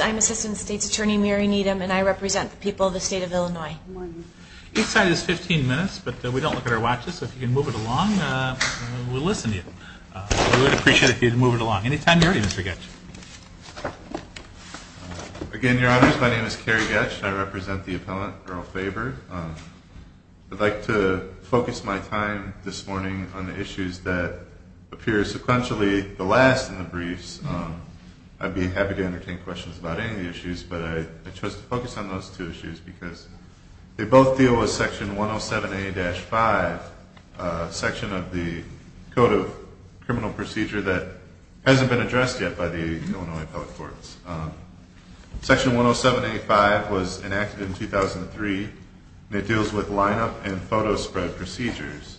I'm Assistant State's Attorney Mary Needham and I represent the people of the state of Illinois. Each side is 15 minutes, but we don't look at our watches, so if you can move it along, we'll listen to you. We would appreciate it if you'd move it along. Any time you're ready, Mr. Goetsch. Again, Your Honors, my name is Kerry Goetsch and I represent the appellant Earl Faber. I'd like to focus my time this morning on the issues that appear sequentially the last in the briefs. I'd be happy to entertain questions about any of the issues, but I chose to focus on those two issues because they both deal with Section 107A-5, Section 107A-5, Section 107A-5, Code of Criminal Procedure that hasn't been addressed yet by the Illinois Appellate Courts. Section 107A-5 was enacted in 2003 and it deals with line-up and photo spread procedures.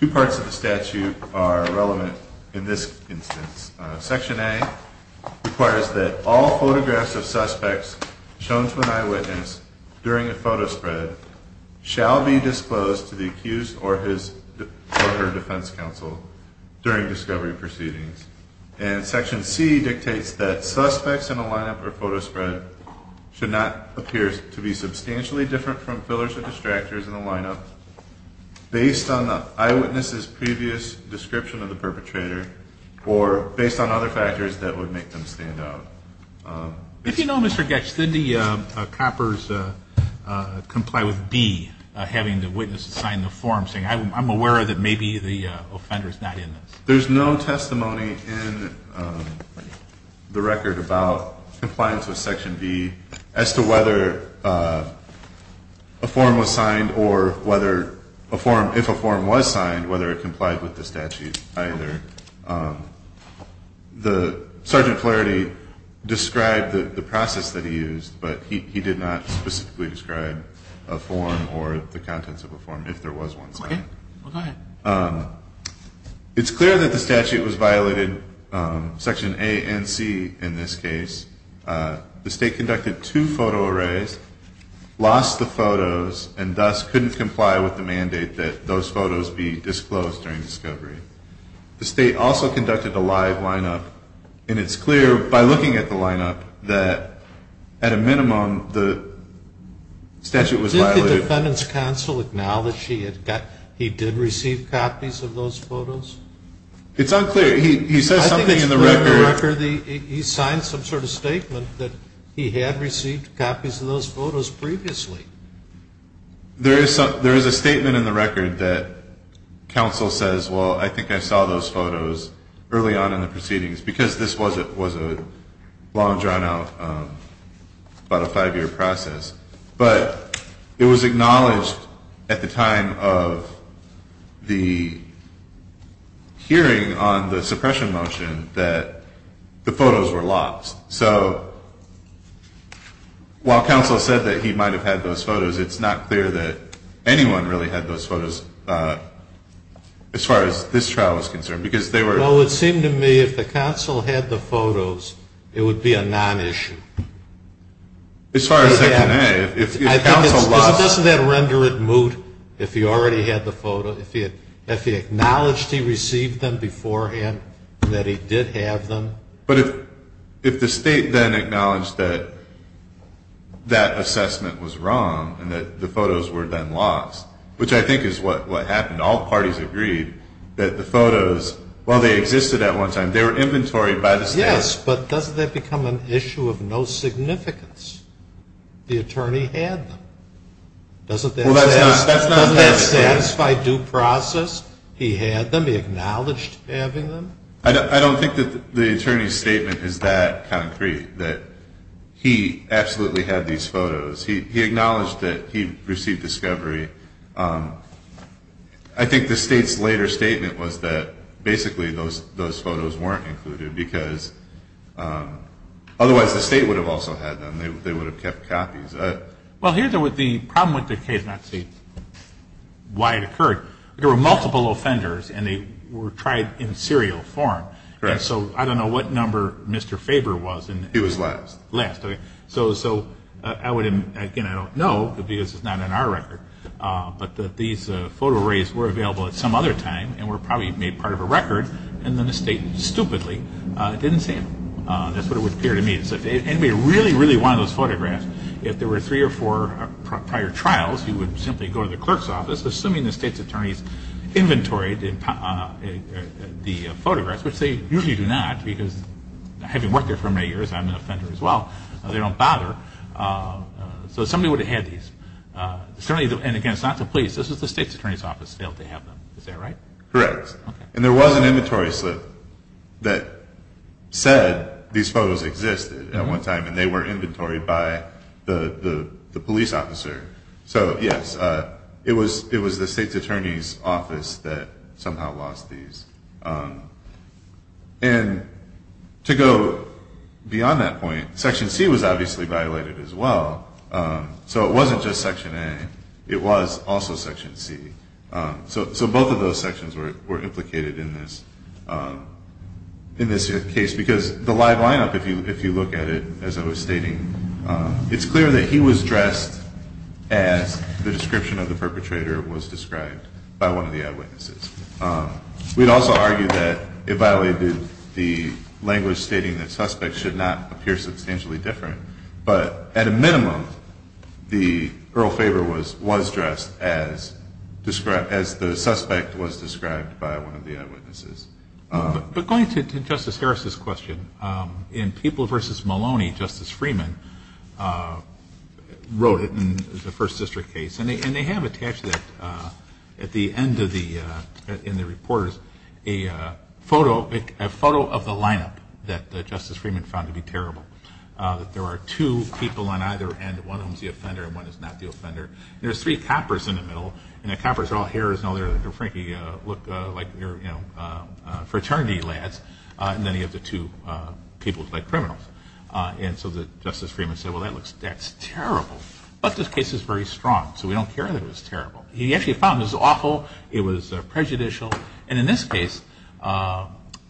Two parts of the statute are relevant in this instance. Section A requires that all photographs of suspects shown to an eyewitness during a photo spread shall be disclosed to the accused or his or her defense counsel during discovery proceedings. And Section C dictates that suspects in a line-up or photo spread should not appear to be substantially different from fillers or distractors in a line-up based on the eyewitness's previous description of the perpetrator or based on other factors that would make them stand out. If you know, Mr. Goetsch, did the coppers comply with B, having the witness sign the form, saying I'm aware that maybe the offender is not in this? There's no testimony in the record about compliance with Section B as to whether a form was signed or whether a form, if a form was signed, whether it complied with the statute either. The, Sergeant Flaherty described the process that he used, but he did not specifically describe a form or the contents of a form, if there was one signed. Okay. Well, go ahead. It's clear that the statute was violated, Section A and C in this case. The state conducted two photo arrays, lost the photos, and thus couldn't comply with the mandate that those photos be disclosed during discovery. The state also conducted a live line-up, and it's clear by looking at the line-up that at a minimum, the statute was violated. Did the defendant's counsel acknowledge that he did receive copies of those photos? It's unclear. He says something in the record. I think it's clear in the record that he signed some sort of statement that he had received copies of those photos previously. There is a statement in the record that counsel says, well, I think I saw those photos early on in the proceedings, because this was a long, drawn-out, about a five-year process. But it was acknowledged at the time of the hearing on the suppression motion that the photos were lost. So while counsel said that he might have had those photos, it's not clear that anyone really had those photos as far as this trial is concerned, because they were Well, it seemed to me if the counsel had the photos, it would be a non-issue. As far as Section A, if counsel lost Doesn't that render it moot if he already had the photo, if he acknowledged he received them beforehand and that he did have them? But if the State then acknowledged that that assessment was wrong and that the photos were then lost, which I think is what happened, all parties agreed that the photos, while they existed at one time, they were inventoried by the State. Yes, but doesn't that become an issue of no significance? The attorney had them. Well, that's not Doesn't that satisfy due process? He had them. He acknowledged having them. I don't think that the attorney's statement is that concrete, that he absolutely had these photos. He acknowledged that he received discovery. I think the State's later statement was that basically those photos weren't included because otherwise the State would have also had them. They would have kept copies. Well, here the problem with the case, and that's why it occurred, there were multiple offenders and they were tried in serial form. Right. So I don't know what number Mr. Faber was. He was last. Last, okay. So I would, again, I don't know because it's not in our record, but these photo arrays were available at some other time and were probably made part of a record and then the State stupidly didn't sample them. That's what it would appear to me. And if anybody really, really wanted those photographs, if there were three or four prior trials, you would simply go to the clerk's office, assuming the State's attorney's inventoried the photographs, which they usually do not because having worked there for many years, I'm an offender as well, they don't bother. So somebody would have had these. Certainly, and again, it's not the police. This was the State's attorney's office that failed to have them. Is that right? Correct. And there was an inventory slip that said these photos existed at one time and they were inventoried by the police officer. So, yes, it was the State's attorney's office that somehow lost these. And to go beyond that point, Section C was obviously violated as well. So it wasn't just Section A. It was also Section C. So both of those sections were implicated in this case because the live lineup, if you look at it, as I was stating, it's clear that he was dressed as the description of the perpetrator was described by one of the eyewitnesses. We'd also argue that it violated the language stating that suspects should not appear substantially different. But at a minimum, the Earl Faber was dressed as the suspect was described by one of the eyewitnesses. But going to Justice Harris's question, in People v. Maloney, Justice Freeman wrote it in the First District case. And they have attached that at the end of the report, a photo of the lineup that Justice Freeman found to be terrible. There are two people on either end. One of them is the offender and one is not the offender. And there's three coppers in the middle. And the coppers are all hairs. And, frankly, they look like fraternity lads. And then you have the two people who look like criminals. And so Justice Freeman said, well, that's terrible. But this case is very strong. So we don't care that it was terrible. He actually found it was awful. It was prejudicial. And in this case,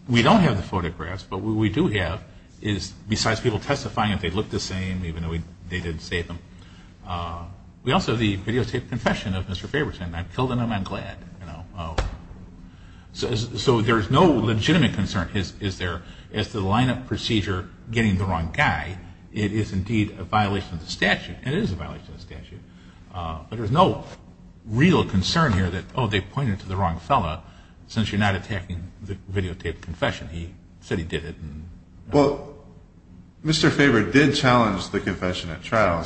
we don't have the photographs. But what we do have is, besides people testifying, that they look the same even though they didn't say them. We also have the videotaped confession of Mr. Faberson. I killed him. I'm glad. So there's no legitimate concern, is there, as to the lineup procedure getting the wrong guy. It is, indeed, a violation of the statute. And it is a violation of the statute. But there's no real concern here that, oh, they pointed to the wrong fellow, since you're not attacking the videotaped confession. He said he did it. Well, Mr. Faber did challenge the confession at trial,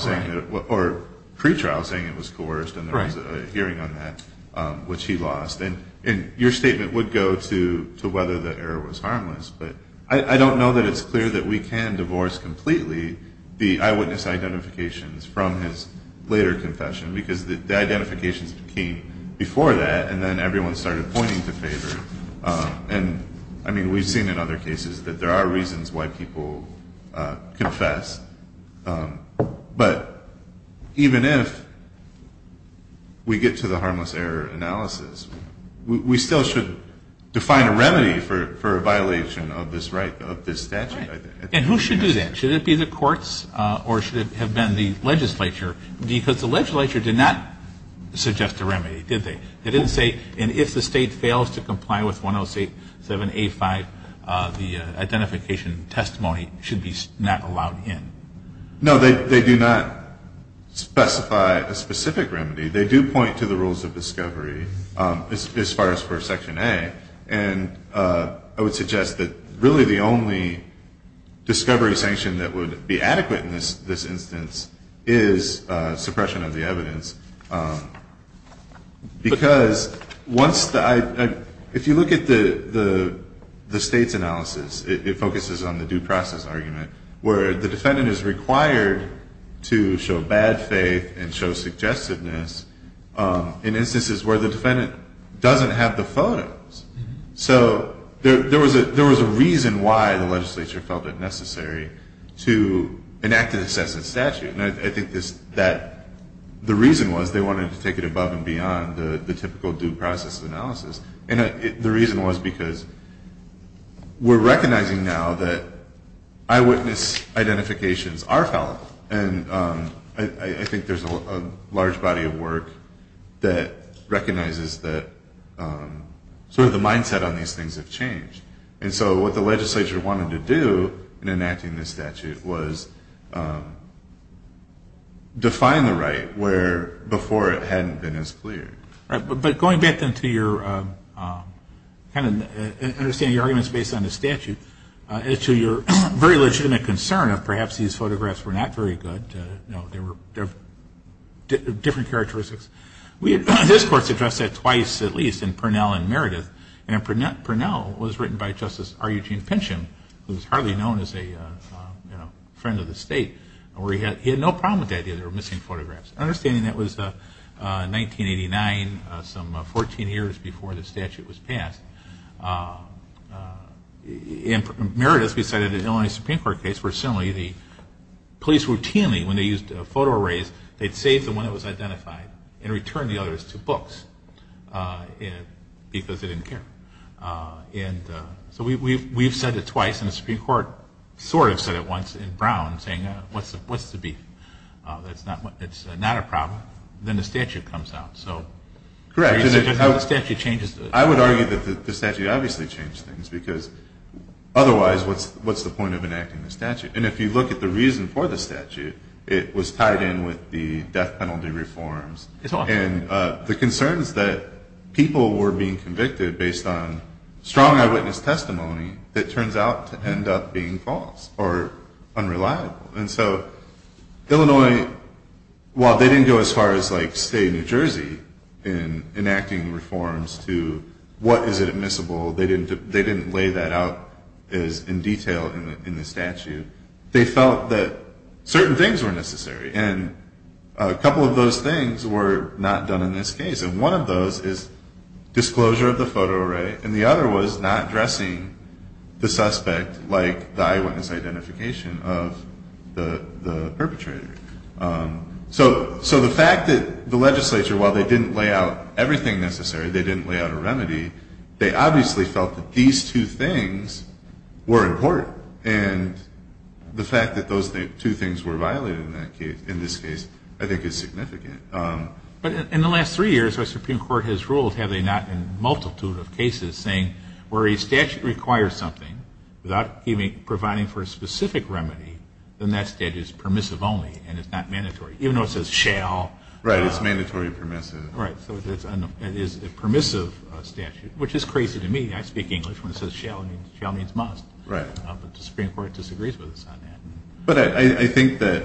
or pre-trial, saying it was coerced. And there was a hearing on that, which he lost. And your statement would go to whether the error was harmless. But I don't know that it's clear that we can divorce completely the eyewitness identifications from his later confession, because the identifications came before that, and then everyone started pointing to Faber. And, I mean, we've seen in other cases that there are reasons why people confess. But even if we get to the harmless error analysis, we still should define a remedy for a violation of this statute. And who should do that? Should it be the courts or should it have been the legislature? Because the legislature did not suggest a remedy, did they? They didn't say, and if the State fails to comply with 108.7.A.5, the identification testimony should be not allowed in. No, they do not specify a specific remedy. They do point to the rules of discovery, as far as for Section A. And I would suggest that really the only discovery sanction that would be adequate in this If you look at the State's analysis, it focuses on the due process argument, where the defendant is required to show bad faith and show suggestiveness in instances where the defendant doesn't have the photos. So there was a reason why the legislature felt it necessary to enact an assessment statute. And I think the reason was they wanted to take it above and beyond the typical due process analysis. And the reason was because we're recognizing now that eyewitness identifications are fallible. And I think there's a large body of work that recognizes that sort of the mindset on these things have changed. And so what the legislature wanted to do in enacting this statute was define the right where before it hadn't been as clear. But going back then to your kind of understanding your arguments based on the statute, to your very legitimate concern of perhaps these photographs were not very good, they were different characteristics. His courts addressed that twice at least in Purnell and Meredith. And Purnell was written by Justice R. Eugene Pynchon, who was hardly known as a friend of the State, where he had no problem with the idea that there were missing photographs. Understanding that was 1989, some 14 years before the statute was passed. In Meredith, we cited an Illinois Supreme Court case where similarly the police routinely when they used photo arrays, they'd save the one that was identified and return the others to books because they didn't care. And so we've said it twice and the Supreme Court sort of said it once in Brown saying what's the beef? It's not a problem. Then the statute comes out. So the statute changes. I would argue that the statute obviously changed things because otherwise what's the point of enacting the statute? And if you look at the reason for the statute, it was tied in with the death penalty reforms. And the concerns that people were being convicted based on strong eyewitness testimony that turns out to end up being false or unreliable. And so Illinois, while they didn't go as far as like state of New Jersey in enacting reforms to what is admissible, they didn't lay that out in detail in the statute. They felt that certain things were necessary. And a couple of those things were not done in this case. And one of those is disclosure of the photo array. And the other was not addressing the suspect like the eyewitness identification of the perpetrator. So the fact that the legislature, while they didn't lay out everything necessary, they didn't lay out a remedy, they obviously felt that these two things were important. And the fact that those two things were violated in this case I think is significant. But in the last three years, our Supreme Court has ruled, have they not, in a multitude of cases, saying where a statute requires something without providing for a specific remedy, then that statute is permissive only and it's not mandatory, even though it says shall. Right, it's mandatory and permissive. Right, so it is a permissive statute, which is crazy to me. I speak English when it says shall means must. Right. But the Supreme Court disagrees with us on that. But I think that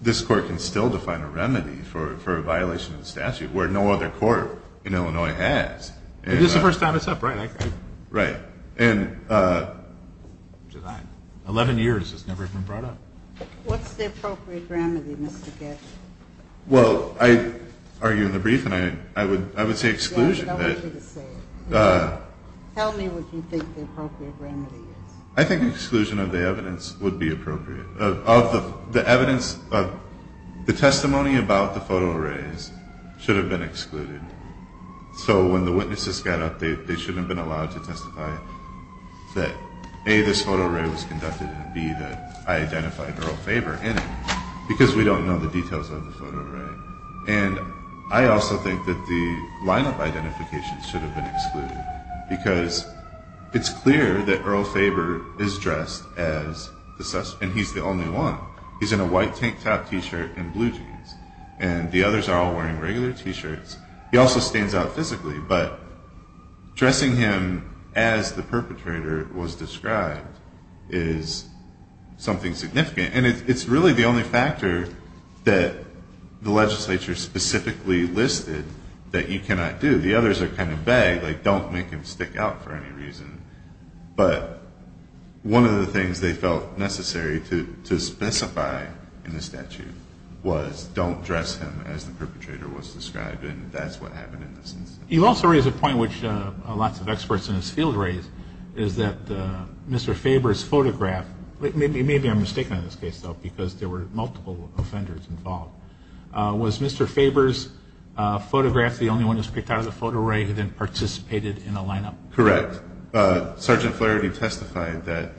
this Court can still define a remedy for a violation of the statute, where no other court in Illinois has. This is the first time it's up, right? Right. In 11 years, it's never even brought up. What's the appropriate remedy, Mr. Gatch? Well, I argue in the brief and I would say exclusion. Yeah, but I wanted you to say it. Tell me what you think the appropriate remedy is. I think exclusion of the evidence would be appropriate. The testimony about the photo arrays should have been excluded. So when the witnesses got up, they shouldn't have been allowed to testify that, A, this photo array was conducted and, B, that I identified Earl Faber in it, because we don't know the details of the photo array. And I also think that the lineup identification should have been excluded because it's clear that Earl Faber is dressed as the suspect, and he's the only one. He's in a white tank top T-shirt and blue jeans, and the others are all wearing regular T-shirts. He also stands out physically, but dressing him as the perpetrator was described is something significant. And it's really the only factor that the legislature specifically listed that you cannot do. The others are kind of vague, like don't make him stick out for any reason. But one of the things they felt necessary to specify in the statute was don't dress him as the perpetrator was described, and that's what happened in this instance. You also raise a point which lots of experts in this field raise, is that Mr. Faber's photograph, maybe I'm mistaken in this case, though, because there were multiple offenders involved. Was Mr. Faber's photograph the only one that was picked out of the photo array who then participated in the lineup? Correct. Sergeant Flaherty testified that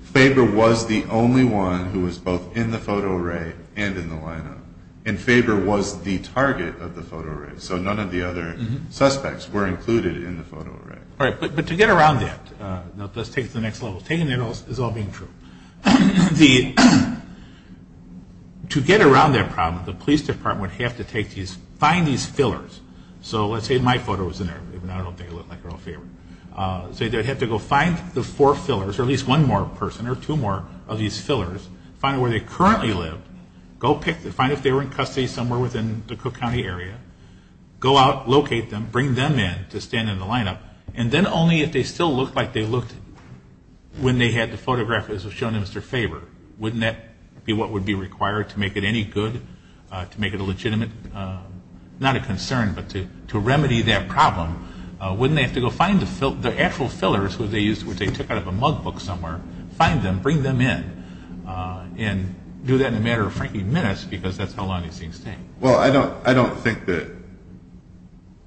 Faber was the only one who was both in the photo array and in the lineup, and Faber was the target of the photo array. So none of the other suspects were included in the photo array. All right, but to get around that, let's take it to the next level. Taking that is all being true. To get around that problem, the police department would have to find these fillers. So let's say my photo was in there, even though I don't think it looked like Earl Faber. So they'd have to go find the four fillers, or at least one more person or two more of these fillers, find where they currently live, find if they were in custody somewhere within the Cook County area, go out, locate them, bring them in to stand in the lineup, and then only if they still looked like they looked when they had the photograph as shown in Mr. Faber. Wouldn't that be what would be required to make it any good, to make it a legitimate, not a concern, but to remedy that problem? Wouldn't they have to go find the actual fillers which they took out of a mug book somewhere, find them, bring them in, and do that in a matter of, frankly, minutes, because that's how long these things take. Well, I don't think that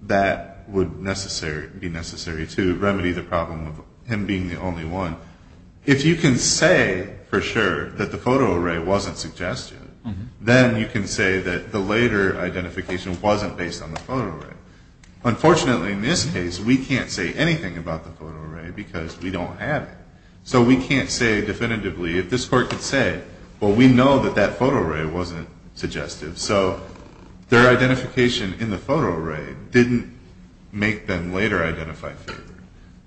that would be necessary to remedy the problem of him being the only one. If you can say for sure that the photo array wasn't suggestive, then you can say that the later identification wasn't based on the photo array. Unfortunately, in this case, we can't say anything about the photo array because we don't have it. So we can't say definitively if this court could say, well, we know that that photo array wasn't suggestive. So their identification in the photo array didn't make them later identify Faber,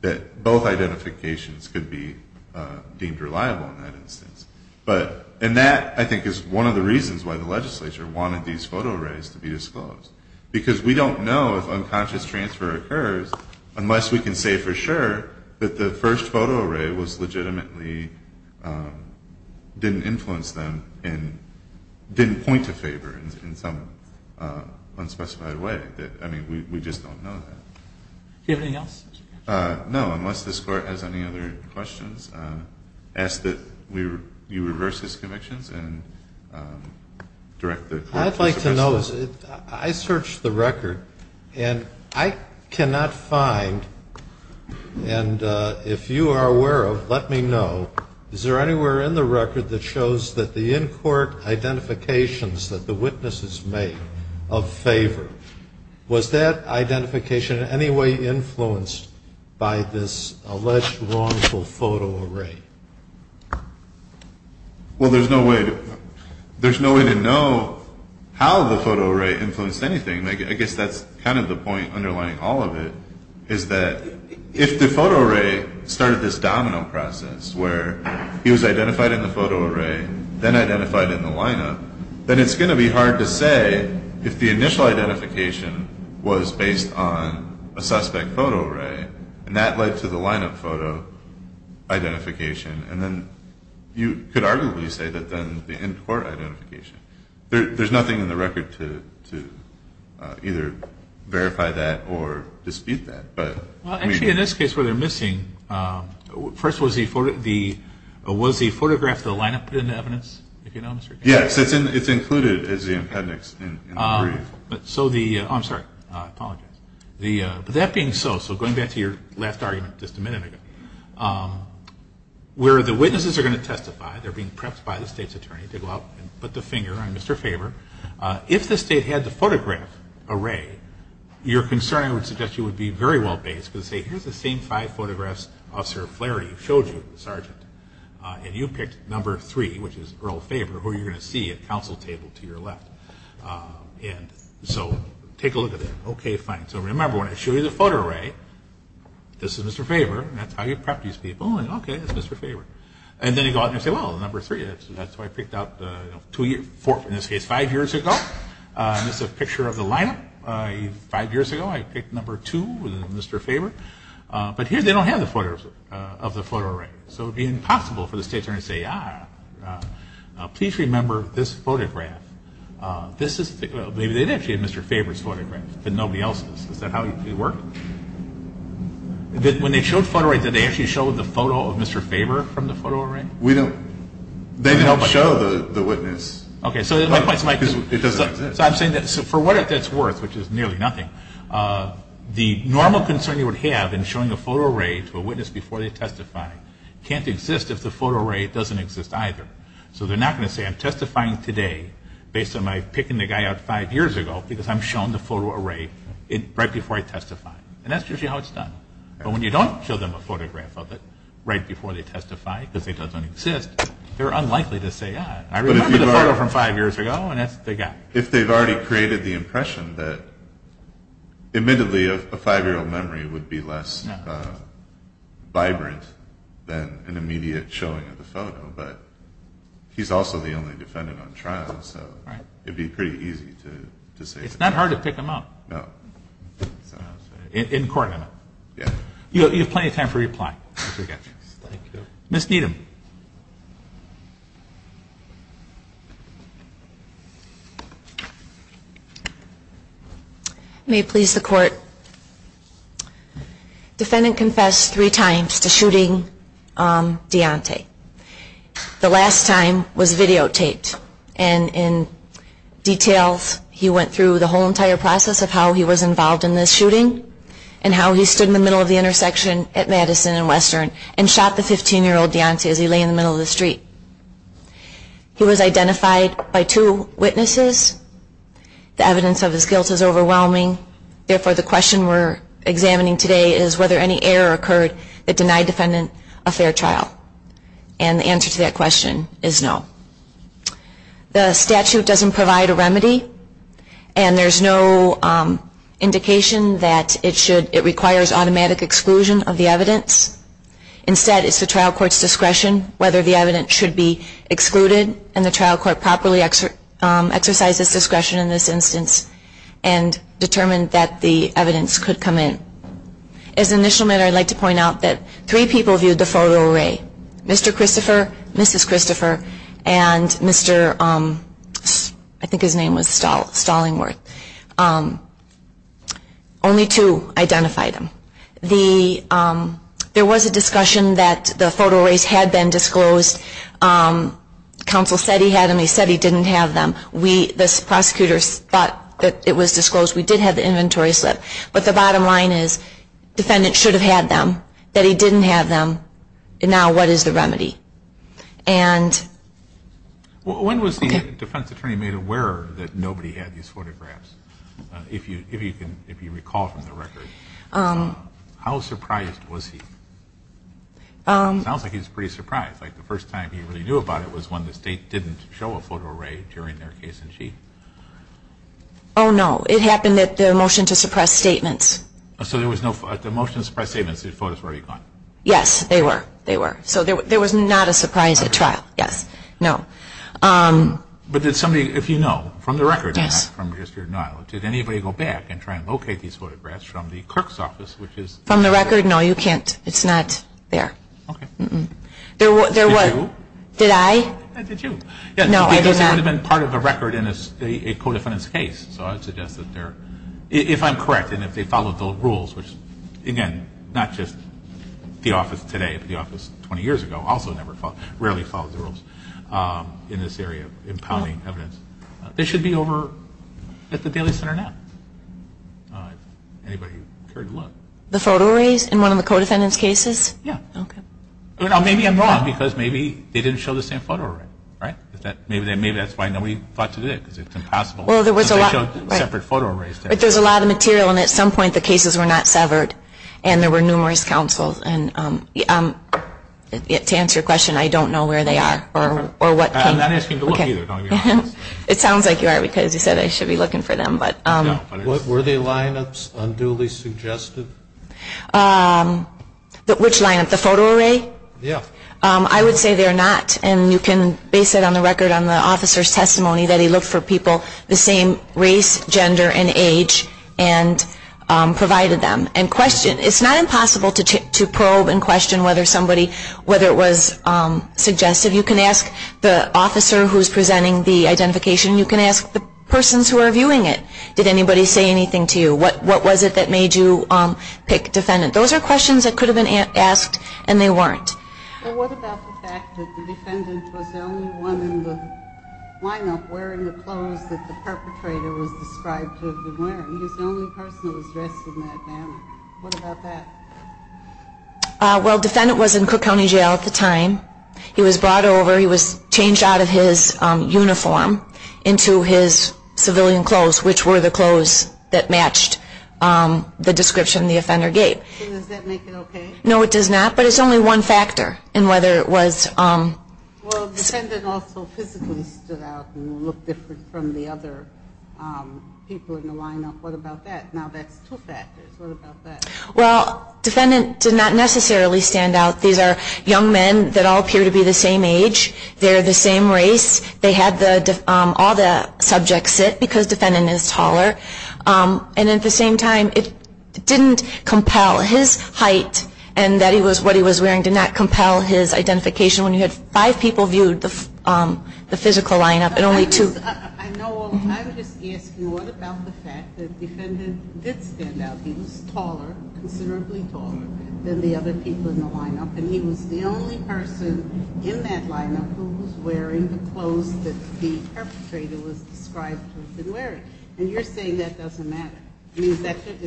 that both identifications could be deemed reliable in that instance. And that, I think, is one of the reasons why the legislature wanted these photo arrays to be disclosed, because we don't know if unconscious transfer occurs unless we can say for sure that the first photo array legitimately didn't influence them and didn't point to Faber in some unspecified way. I mean, we just don't know that. Do you have anything else? No, unless this court has any other questions. I ask that you reverse his convictions and direct the court to subpoena him. I'd like to know, I searched the record, and I cannot find, and if you are aware of, let me know, is there anywhere in the record that shows that the in-court identifications that the witnesses made of Faber, was that identification in any way influenced by this alleged wrongful photo array? Well, there's no way to know how the photo array influenced anything. I guess that's kind of the point underlying all of it, is that if the photo array started this domino process where he was identified in the photo array, then identified in the lineup, then it's going to be hard to say if the initial identification was based on a suspect photo array, and that led to the lineup photo identification. And then you could arguably say that then the in-court identification. There's nothing in the record to either verify that or dispute that. Actually, in this case where they're missing, first, was the photograph the lineup put into evidence? Yes, it's included as the appendix in the brief. I'm sorry, I apologize. But that being so, so going back to your last argument just a minute ago, where the witnesses are going to testify, they're being prepped by the state's attorney to go out and put the finger on Mr. Faber, if the state had the photograph array, your concern, I would suggest, would be very well based, because say here's the same five photographs Officer Flaherty showed you, the sergeant, and you picked number three, which is Earl Faber, who you're going to see at counsel table to your left. And so take a look at it. Okay, fine. So remember, when I show you the photo array, this is Mr. Faber. That's how you prep these people. Okay, it's Mr. Faber. And then you go out and say, well, number three, that's what I picked out two years, four, in this case, five years ago. This is a picture of the lineup five years ago. I picked number two, Mr. Faber. But here they don't have the photos of the photo array. So it would be impossible for the state attorney to say, ah, please remember this photograph. Maybe they did actually have Mr. Faber's photograph, but nobody else's. Is that how it worked? When they showed the photo array, did they actually show the photo of Mr. Faber from the photo array? We don't. They didn't show the witness. Okay, so my point is my point is. It doesn't exist. So I'm saying for what that's worth, which is nearly nothing, the normal concern you would have in showing a photo array to a witness before they testify can't exist if the photo array doesn't exist either. So they're not going to say I'm testifying today based on my picking the guy out five years ago because I'm showing the photo array right before I testify. And that's usually how it's done. But when you don't show them a photograph of it right before they testify because it doesn't exist, they're unlikely to say, ah, I remember the photo from five years ago, and that's what they got. If they've already created the impression that, admittedly, a five-year-old memory would be less vibrant than an immediate showing of the photo, but he's also the only defendant on trial, so it would be pretty easy to say. It's not hard to pick him up. No. In court, I mean. Yeah. You have plenty of time for reply. Thank you. Ms. Needham. May it please the court. Defendant confessed three times to shooting Deontay. The last time was videotaped. And in details, he went through the whole entire process of how he was involved in this shooting and how he stood in the middle of the intersection at Madison and Western and shot the 15-year-old Deontay as he lay in the middle of the street. He was identified by two witnesses. The evidence of his guilt is overwhelming. Therefore, the question we're examining today is whether any error occurred that denied the defendant a fair trial. And the answer to that question is no. The statute doesn't provide a remedy, and there's no indication that it requires automatic exclusion of the evidence. Instead, it's the trial court's discretion whether the evidence should be excluded, and the trial court properly exercises discretion in this instance and determined that the evidence could come in. As an initial matter, I'd like to point out that three people viewed the photo array, Mr. Christopher, Mrs. Christopher, and Mr. I think his name was Stallingworth. Only two identified him. There was a discussion that the photo arrays had been disclosed. Counsel said he had them. He said he didn't have them. The prosecutors thought that it was disclosed. We did have the inventory slip. But the bottom line is defendant should have had them, that he didn't have them. Now what is the remedy? When was the defense attorney made aware that nobody had these photographs, if you recall from the record? How surprised was he? It sounds like he was pretty surprised. Like the first time he really knew about it was when the state didn't show a photo array during their case in chief. Oh, no. It happened at the motion to suppress statements. So the motion to suppress statements, the photos were already gone? Yes, they were. They were. So there was not a surprise at trial. Yes. No. But did somebody, if you know from the record, did anybody go back and try to locate these photographs from the clerk's office? From the record? No, you can't. It's not there. Okay. Did you? Did I? Did you? No, I did not. Because it would have been part of a record in a co-defendant's case. So I would suggest that if I'm correct and if they followed the rules, which again not just the office today but the office 20 years ago also rarely followed the rules in this area of impounding evidence, they should be over at the Daly Center now if anybody occurred to look. The photo arrays in one of the co-defendants' cases? Yes. Okay. Maybe I'm wrong because maybe they didn't show the same photo array, right? Maybe that's why nobody thought to do it because it's impossible. Well, there was a lot. Because they showed separate photo arrays there. But there's a lot of material and at some point the cases were not severed and there were numerous counsels. And to answer your question, I don't know where they are or what came. I'm not asking you to look either. It sounds like you are because you said I should be looking for them. Were they lineups unduly suggested? Which lineup? The photo array? Yes. I would say they're not. And you can base it on the record on the officer's testimony that he looked for people the same race, gender, and age and provided them and questioned. It's not impossible to probe and question whether somebody, whether it was suggestive. You can ask the officer who's presenting the identification. You can ask the persons who are viewing it. Did anybody say anything to you? What was it that made you pick defendant? Those are questions that could have been asked and they weren't. What about the fact that the defendant was the only one in the lineup wearing the clothes that the perpetrator was described to have been wearing? He was the only person who was dressed in that manner. What about that? Well, defendant was in Cook County Jail at the time. He was brought over. He was changed out of his uniform into his civilian clothes, which were the clothes that matched the description the offender gave. So does that make it okay? No, it does not, but it's only one factor in whether it was. Well, defendant also physically stood out and looked different from the other people in the lineup. What about that? Now that's two factors. What about that? Well, defendant did not necessarily stand out. These are young men that all appear to be the same age. They're the same race. They had all the subjects sit because defendant is taller. And at the same time, it didn't compel his height and that he was what he was wearing, did not compel his identification when you had five people viewed the physical lineup and only two. I would just ask you what about the fact that defendant did stand out. He was taller, considerably taller than the other people in the lineup, and he was the only person in that lineup who was wearing the clothes that the perpetrator was described to have been wearing. And you're saying that doesn't matter. I mean, is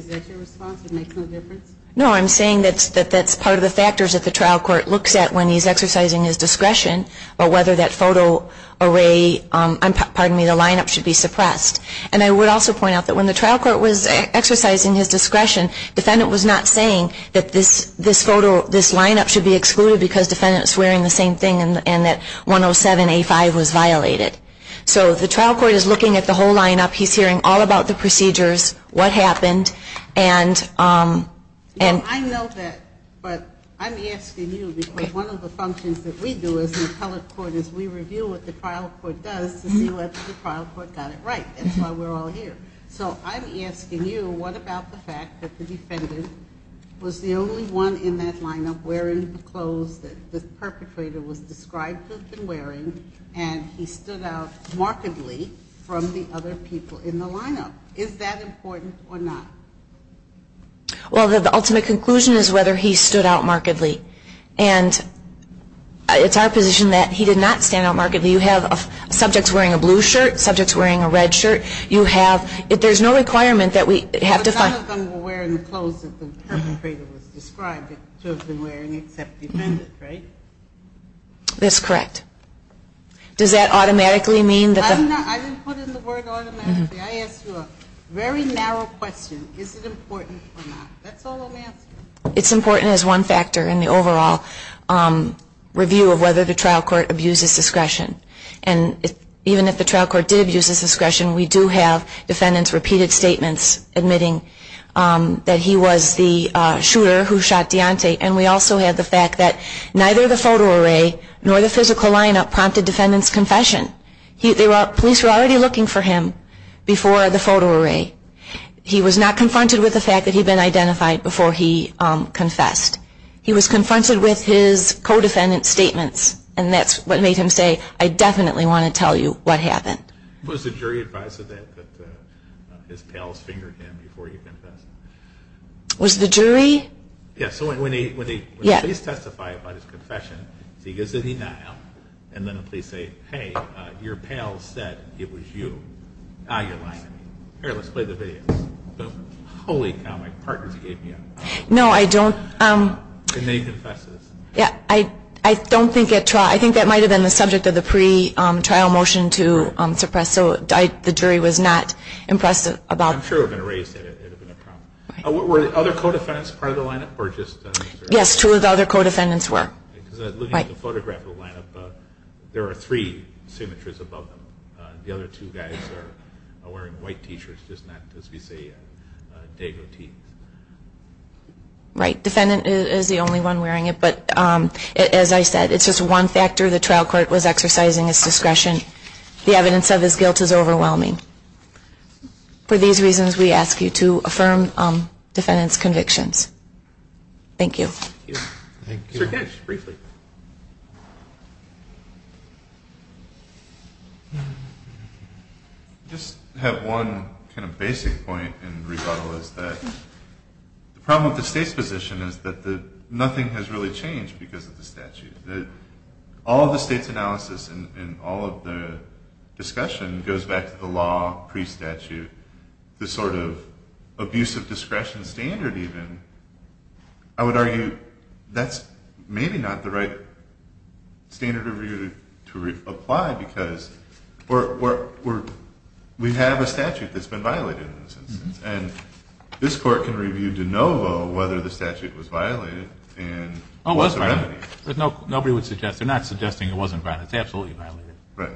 that your response, it makes no difference? No, I'm saying that that's part of the factors that the trial court looks at when he's exercising his discretion, or whether that photo array, pardon me, the lineup should be suppressed. And I would also point out that when the trial court was exercising his discretion, defendant was not saying that this photo, this lineup should be excluded because defendant was wearing the same thing and that 107A5 was violated. So the trial court is looking at the whole lineup. He's hearing all about the procedures, what happened. I know that, but I'm asking you because one of the functions that we do as an appellate court is we review what the trial court does to see whether the trial court got it right. That's why we're all here. So I'm asking you what about the fact that the defendant was the only one in that lineup wearing the clothes that the perpetrator was described to have been wearing, and he stood out markedly from the other people in the lineup. Is that important or not? Well, the ultimate conclusion is whether he stood out markedly. And it's our position that he did not stand out markedly. You have subjects wearing a blue shirt, subjects wearing a red shirt. You have ‑‑ there's no requirement that we have to find ‑‑ But none of them were wearing the clothes that the perpetrator was described to have been wearing except the defendant, right? That's correct. Does that automatically mean that the ‑‑ I didn't put in the word automatically. I asked you a very narrow question. Is it important or not? That's all I'm asking. It's important as one factor in the overall review of whether the trial court abuses discretion. And even if the trial court did abuse its discretion, we do have defendants' repeated statements admitting that he was the shooter who shot Deontay. And we also have the fact that neither the photo array nor the physical lineup prompted defendants' confession. The police were already looking for him before the photo array. He was not confronted with the fact that he had been identified before he confessed. He was confronted with his co‑defendant's statements. And that's what made him say, I definitely want to tell you what happened. Was the jury advised of that, that his pals fingered him before he confessed? Was the jury? Yeah, so when the police testify about his confession, he goes into denial, and then the police say, hey, your pal said it was you. Ah, you're lying. Here, let's play the video. Holy cow, my partners gave me a hard time. No, I don't ‑‑ And then he confesses. Yeah, I don't think at trial ‑‑ I think that might have been the subject of the pre‑trial motion to suppress, so the jury was not impressed about ‑‑ I'm sure if it had been raised, it would have been a problem. Were other co‑defendants part of the lineup, or just ‑‑ Yes, two of the other co‑defendants were. Because looking at the photograph of the lineup, there are three signatures above them. The other two guys are wearing white T‑shirts, just not, as we say, Dago teeth. Right, defendant is the only one wearing it, but as I said, it's just one factor the trial court was exercising its discretion. The evidence of his guilt is overwhelming. For these reasons, we ask you to affirm defendant's convictions. Thank you. Thank you. Thank you. Sir, Ken, just briefly. I just have one kind of basic point in rebuttal, is that the problem with the state's position is that nothing has really changed because of the statute. All of the state's analysis and all of the discussion goes back to the law pre‑statute, the sort of abuse of discretion standard, even. I would argue that's maybe not the right standard of review to apply because we have a statute that's been violated in this instance, and this court can review de novo whether the statute was violated and what the remedy is. Oh, it was violated. Nobody would suggest. They're not suggesting it wasn't violated. It's absolutely violated. Right.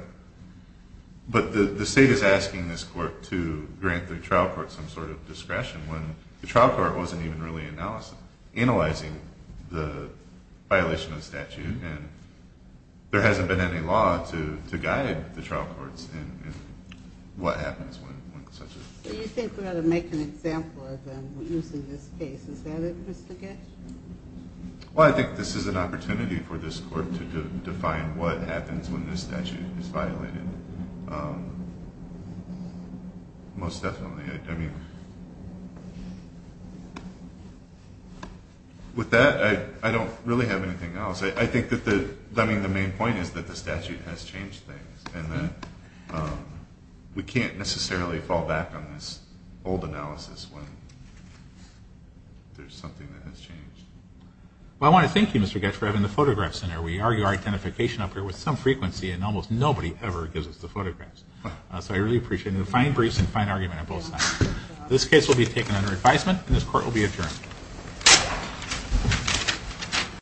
But the state is asking this court to grant the trial court some sort of discretion when the trial court wasn't even really analyzing the violation of the statute and there hasn't been any law to guide the trial courts in what happens when such a… So you think we ought to make an example of them using this case. Is that it, Mr. Getch? Well, I think this is an opportunity for this court to define what happens when this statute is violated. Most definitely. I mean, with that, I don't really have anything else. I think that the main point is that the statute has changed things and that we can't necessarily fall back on this old analysis when there's something that has changed. Well, I want to thank you, Mr. Getch, for having the photographs in here. We argue our identification up here with some frequency and almost nobody ever gives us the photographs. So I really appreciate the fine briefs and fine argument on both sides. This case will be taken under advisement and this court will be adjourned.